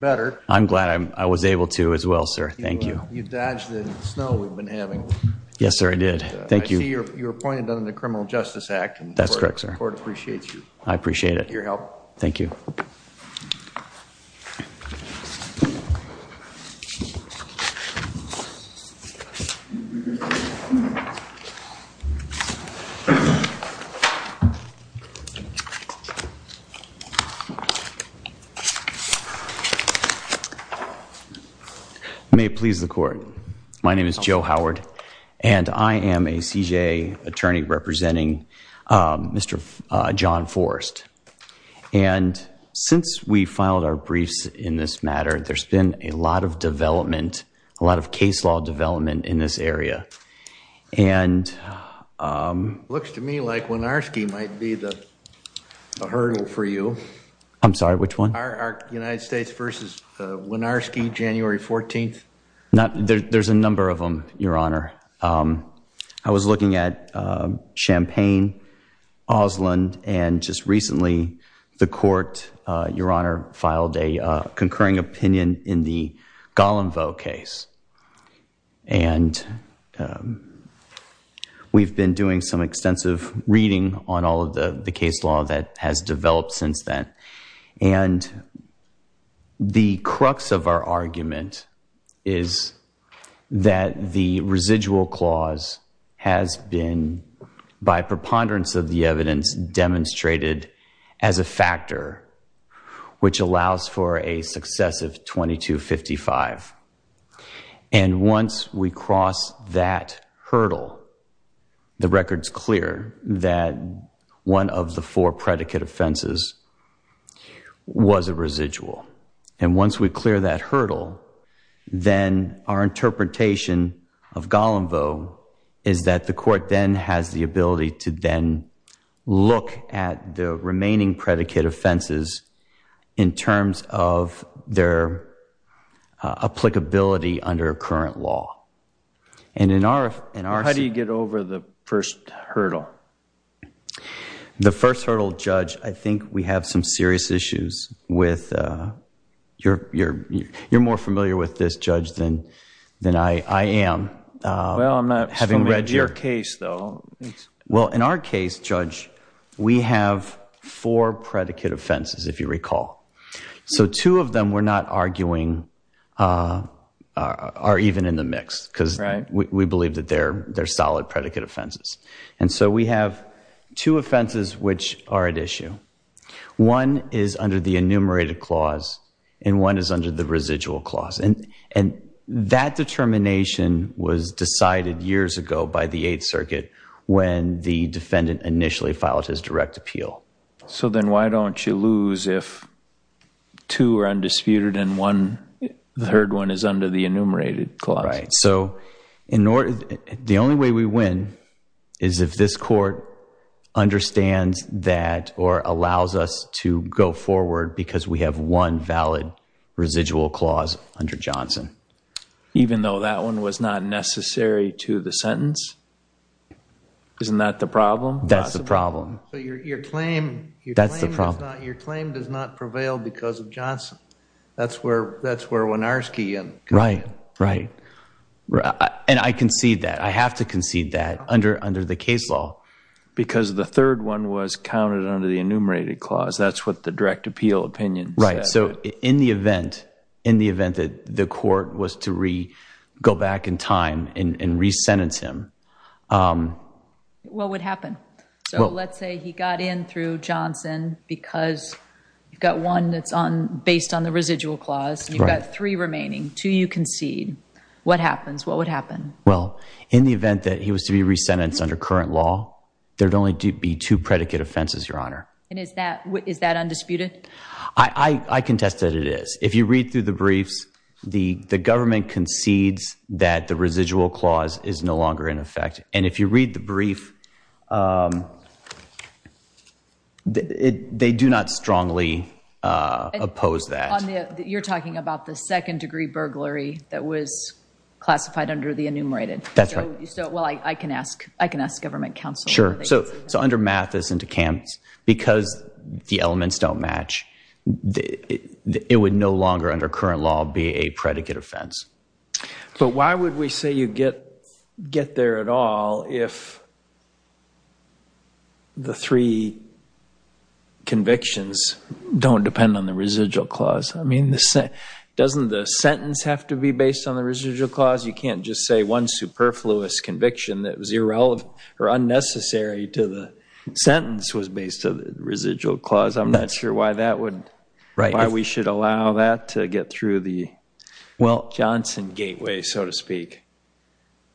better. I'm glad I was able to as well, sir. Thank you. You dodged the snow we've been having. Yes, sir, I did. Thank you. I see you're appointed under the Criminal Justice Act. That's correct, sir. The court appreciates you. I appreciate it. Your help. Thank you. You may please the court. My name is Joe Howard and I am a CJA attorney representing Mr. John Forrest. And since we filed our briefs in this matter, there's been a lot of development, a lot of case law development in this area. And looks to me like Wynarski might be the I'm sorry, which one? United States v. Wynarski, January 14th. There's a number of them, Your Honor. I was looking at Champaign, Oslond, and just recently the court, Your Honor, filed a concurring opinion in the Gollumvoe case. And we've been doing some extensive reading on all of the case law that has developed since then. And the crux of our argument is that the residual clause has been, by preponderance of the evidence, demonstrated as a factor which allows for a success of 2255. And once we cross that hurdle, the record's clear that one of the four predicate offenses was a residual. And once we clear that hurdle, then our interpretation of Gollumvoe is that the court then has the ability to then look at the remaining predicate offenses in terms of their applicability under current law. And in our... How do you get over the first hurdle? The first hurdle, Judge, I think we have some serious issues with... You're more familiar with this, Judge, than I am. Well, I'm not familiar with your case, though. Well, in our case, Judge, we have four predicate offenses, if you recall. So two of them, we're not arguing are even in the mix because we believe that they're solid predicate offenses. And so we have two offenses which are at issue. One is under the enumerated clause, and one is under the residual clause. And that determination was decided years ago by the Eighth Circuit when the defendant initially filed his direct appeal. So then why don't you lose if two are undisputed and one, the third one, is under the enumerated clause? Right. So the only way we win is if this court understands that or allows us to go forward because we have one valid residual clause under Johnson. Even though that one was not necessary to the sentence? Isn't that the problem? That's the problem. Your claim does not prevail because of Johnson. That's where Wynarski in. Right, right. And I concede that. I have to concede that under the case law. Because the third one was counted under the enumerated clause. That's what the direct appeal opinion said. Right. So in the event that the court was to go back in time and re-sentence him. What would happen? So let's say he got in through Johnson because you've got one that's based on the residual clause. You've got three remaining. Two you concede. What happens? What would happen? Well, in the event that he was to be re-sentenced under current law, there'd only be two predicate offenses, Your Honor. And is that undisputed? I contest that it is. If you read through the briefs, the government concedes that the residual clause is no longer in effect. And if you read the brief, they do not strongly oppose that. You're talking about the second degree burglary that was classified under the enumerated. That's right. Well, I can ask. I can ask government counsel. Sure. So under Mathis and DeKalb, because the elements don't match, it would no longer under current law be a predicate offense. But why would we say you get there at all if the three convictions don't depend on the residual clause? I mean, doesn't the sentence have to be based on the residual clause? You can't just say one superfluous conviction that was irrelevant or unnecessary to the sentence was based on the residual clause. I'm not sure why that would, why we should allow that to get through the Johnson gateway, so to speak.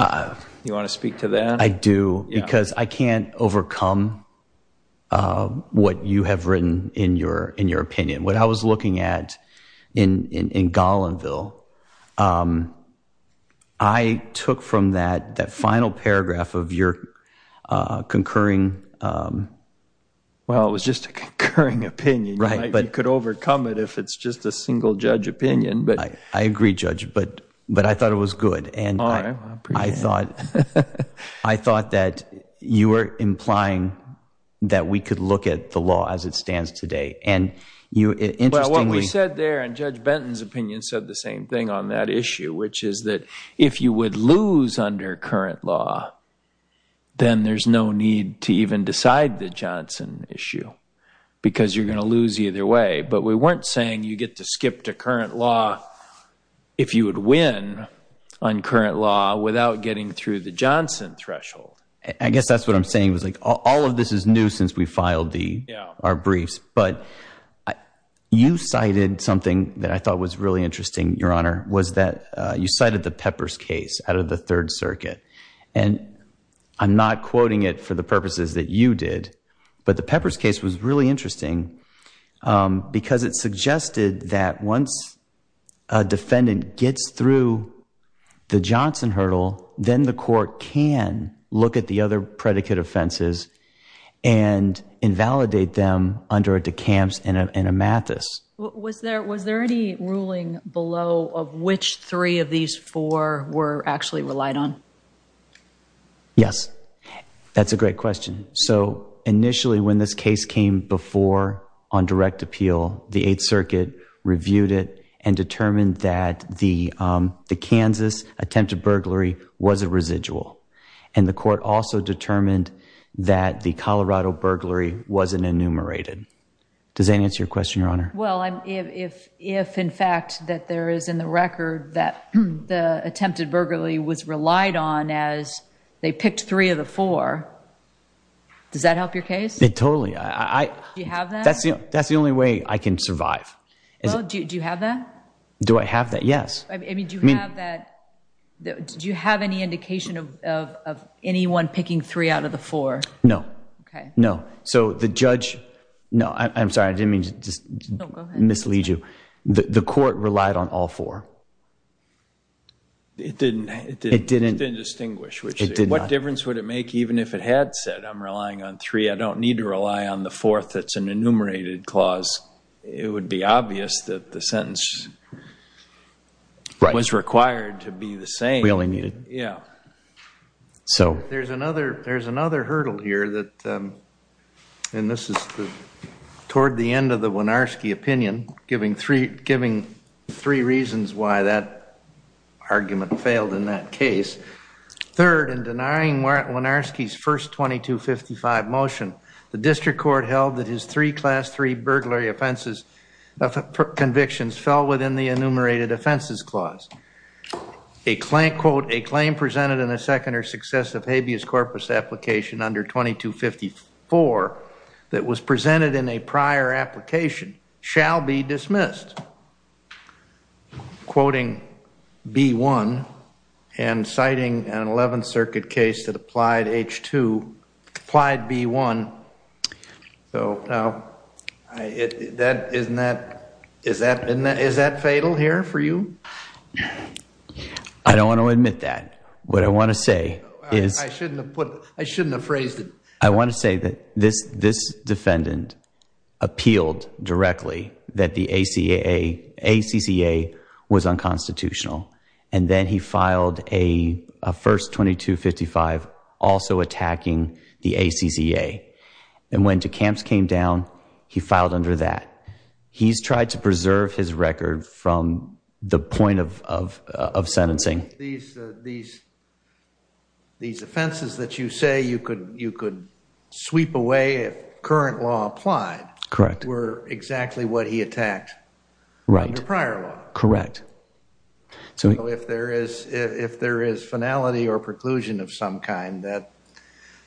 You want to speak to that? I do, because I can't overcome what you have written in your opinion. What I was looking at in Golinville, I took from that final paragraph of your concurring... Well, it was just a concurring opinion. Right. You could overcome it if it's just a single judge opinion. I agree, Judge, but I thought it was good. I thought that you were implying that we could look at the law as it stands today. Well, what we said there, and Judge Benton's opinion said the same thing on that issue, which is that if you would lose under current law, then there's no need to even decide the Johnson issue because you're going to lose either way. But we weren't saying you get to skip to current law if you would win on current law without getting through the Johnson threshold. I guess that's what I'm saying. All of this is new since we filed our briefs. But you cited something that I thought was really interesting, Your Honor, was that you cited the Peppers case out of the Third Circuit. And I'm not quoting it for the purposes that you did, but the Peppers case was really interesting because it suggested that once a defendant gets through the Johnson hurdle, then the court can look at the other predicate offenses and invalidate them under a DeCamps and a Mathis. Was there any ruling below of which three of these four were actually relied on? Yes. That's a great question. So initially when this case came before on direct appeal, the Eighth Circuit reviewed it and determined that the Kansas attempted burglary was a residual. And the court also determined that the Colorado burglary wasn't enumerated. Does that answer your question, Your Honor? Well, if in fact that there is in the record that the attempted burglary was relied on as they picked three of the four, does that help your case? It totally. Do you have that? That's the only way I can survive. Well, do you have that? Do I have that? Yes. Do you have any indication of anyone picking three out of the four? No. Okay. No. So the judge, no, I'm sorry. I didn't mean to mislead you. The court relied on all four. It didn't distinguish. What difference would it make even if it had said I'm relying on three? I don't need to rely on the fourth. That's an enumerated clause. It would be obvious that the sentence was required to be the same. We only needed... Yeah. So there's another hurdle here that, and this is toward the end of the Wynarski opinion, giving three reasons why that argument failed in that case. Third, in denying Wynarski's first 2255 motion, the district court held that his three class three burglary offenses convictions fell within the enumerated offenses clause. A claim presented in a second or successive habeas corpus application under 2254 that was presented in a prior application shall be dismissed. I'm quoting B1 and citing an 11th circuit case that applied H2, applied B1. Is that fatal here for you? I don't want to admit that. What I want to say is... I shouldn't have put, I shouldn't have phrased it. I want to say that this defendant appealed directly that the ACCA was unconstitutional. And then he filed a first 2255 also attacking the ACCA. And when DeCamps came down, he filed under that. He's tried to preserve his record from the point of sentencing. These offenses that you say you could sweep away if current law applied... Correct. ...were exactly what he attacked in the prior law. Correct. So if there is finality or preclusion of some kind, that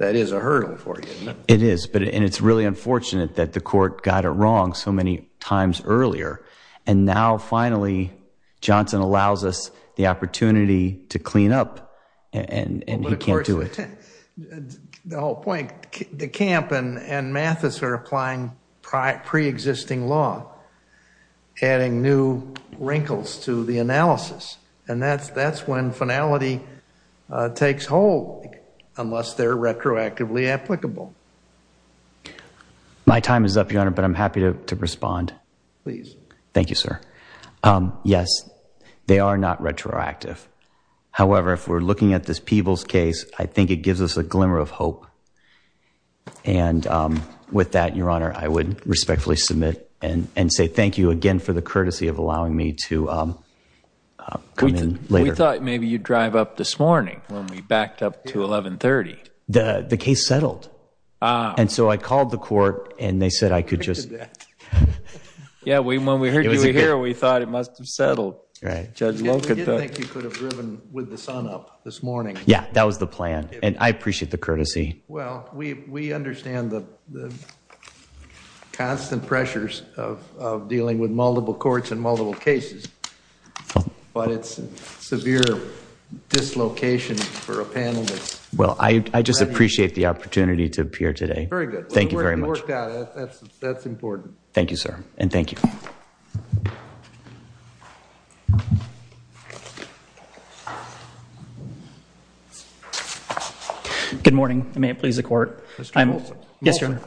is a hurdle for you. It is. And it's really unfortunate that the court got it wrong so many times earlier. And now finally, Johnson allows us the opportunity to clean up and he can't do it. The whole point, DeCamp and Mathis are applying pre-existing law, adding new wrinkles to the analysis. And that's when finality takes hold unless they're retroactively applicable. My time is up, Your Honor, but I'm happy to respond. Please. Thank you, sir. Yes, they are not retroactive. However, if we're looking at this Peebles case, I think it gives us a glimmer of hope. And with that, Your Honor, I would respectfully submit and say thank you again for the courtesy of allowing me to come in later. We thought maybe you'd drive up this morning when we backed up to 1130. The case settled. And so I called the court and they said I could just... Yeah, when we heard you were here, we thought it must have settled. Right. We didn't think you could have driven with the sun up this morning. Yeah, that was the plan. And I appreciate the courtesy. Well, we understand the constant pressures of dealing with multiple courts and multiple cases. But it's severe dislocation for a panel that's... Well, I just appreciate the opportunity to appear today. Very good. Thank you very much. That's important. Thank you, sir. And thank you. Good morning. May it please the court. Yes, sir.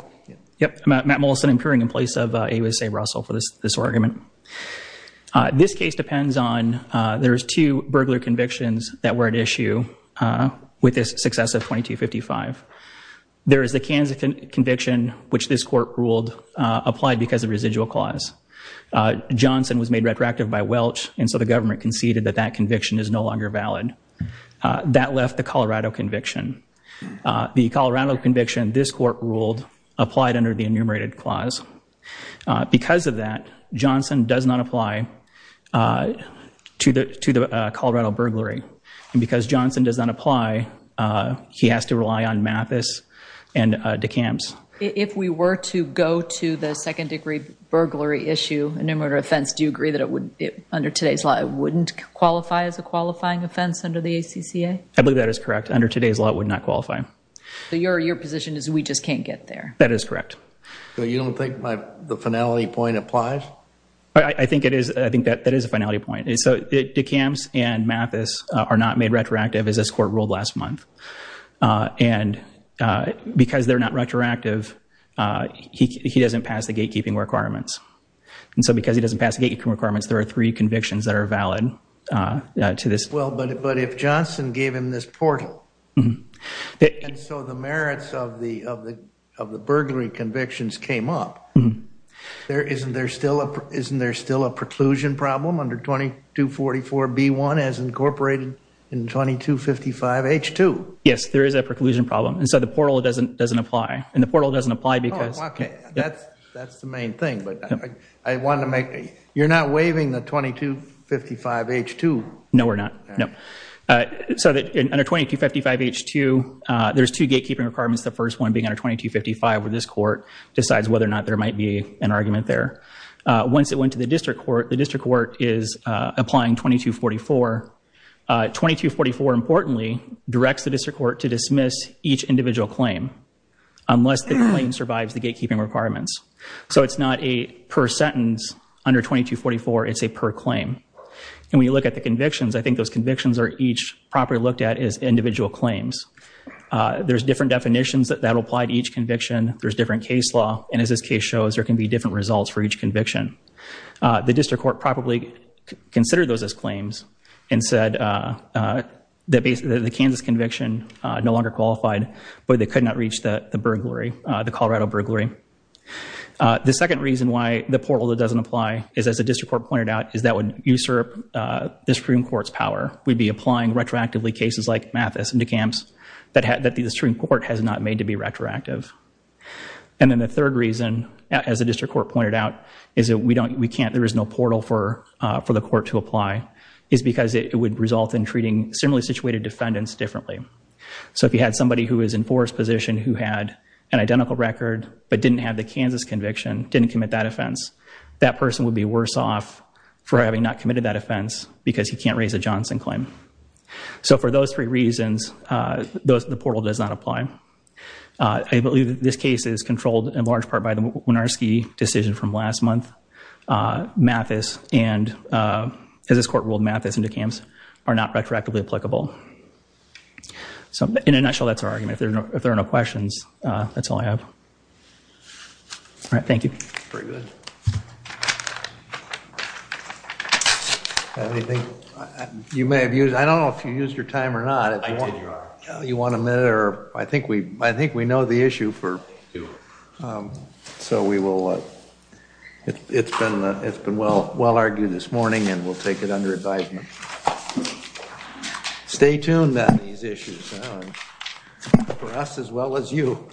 Yep. Matt Mollison. I'm appearing in place of AUSA Russell for this argument. This case depends on... There's two burglar convictions that were at issue with the success of 2255. There is the Kansas conviction, which this court ruled applied because of residual clause. Johnson was made retroactive by Welch, and so the government conceded that that conviction is no longer valid. That left the Colorado conviction. The Colorado conviction, this court ruled, applied under the enumerated clause. Because of that, Johnson does not apply to the Colorado burglary. And because Johnson does not apply, he has to rely on Mathis and DeCamps. If we were to go to the second degree burglary issue, enumerated offense, do you agree that it would, under today's law, it wouldn't qualify as a qualifying offense under the ACCA? I believe that is correct. Under today's law, it would not qualify. So your position is we just can't get there? That is correct. So you don't think the finality point applies? I think it is. I think that that is a finality point. So DeCamps and Mathis are not made retroactive, as this court ruled last month. And because they're not retroactive, he doesn't pass the gatekeeping requirements. And so because he doesn't pass the gatekeeping requirements, there are three convictions that are valid to this. Well, but if Johnson gave him this portal, and so the merits of the burglary convictions came up, isn't there still a preclusion problem under 2244B1 as incorporated in 2255H2? Yes, there is a preclusion problem. And so the portal doesn't apply. And the portal doesn't apply because- Oh, OK. That's the main thing. But I wanted to make, you're not waiving the 2255H2? No, we're not. No. So under 2255H2, there's two gatekeeping requirements. The first one being under 2255, where this court decides whether or not there might be an argument there. Once it went to the district court, the district court is applying 2244. 2244, importantly, directs the district court to dismiss each individual claim unless the claim survives the gatekeeping requirements. So it's not a per sentence under 2244. It's a per claim. And when you look at the convictions, I think those convictions are each properly looked at as individual claims. There's different definitions that apply to each conviction. There's different case law. And as this case shows, there can be different results for each conviction. The district court probably considered those as claims and said that the Kansas conviction no longer qualified, but they could not reach the burglary, the Colorado burglary. The second reason why the portal doesn't apply is, as the district court pointed out, is that would usurp the Supreme Court's power. We'd be applying retroactively cases like Mathis into camps that the Supreme Court has not made to be retroactive. And then the third reason, as the district court pointed out, is that we can't, there is no portal for the court to apply, is because it would result in treating similarly situated defendants differently. So if you had somebody who was in Forrest's position who had an identical record, but didn't have the Kansas conviction, didn't commit that offense, that person would be worse off for having not committed that offense because he can't raise a Johnson claim. So for those three reasons, the portal does not apply. I believe that this case is controlled in large part by the Wynarski decision from last month. Mathis and, as this court ruled, Mathis into camps are not retroactively applicable. So in a nutshell, that's our argument. If there are no questions, that's all I have. All right. Thank you. Very good. You may have used, I don't know if you used your time or not. I did, Your Honor. You want a minute or, I think we know the issue for, so we will, it's been well argued this morning and we'll take it under advisement. Stay tuned on these issues for us as well as you.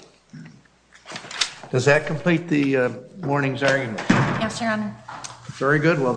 Does that complete the morning's argument? Yes, Your Honor. Very good.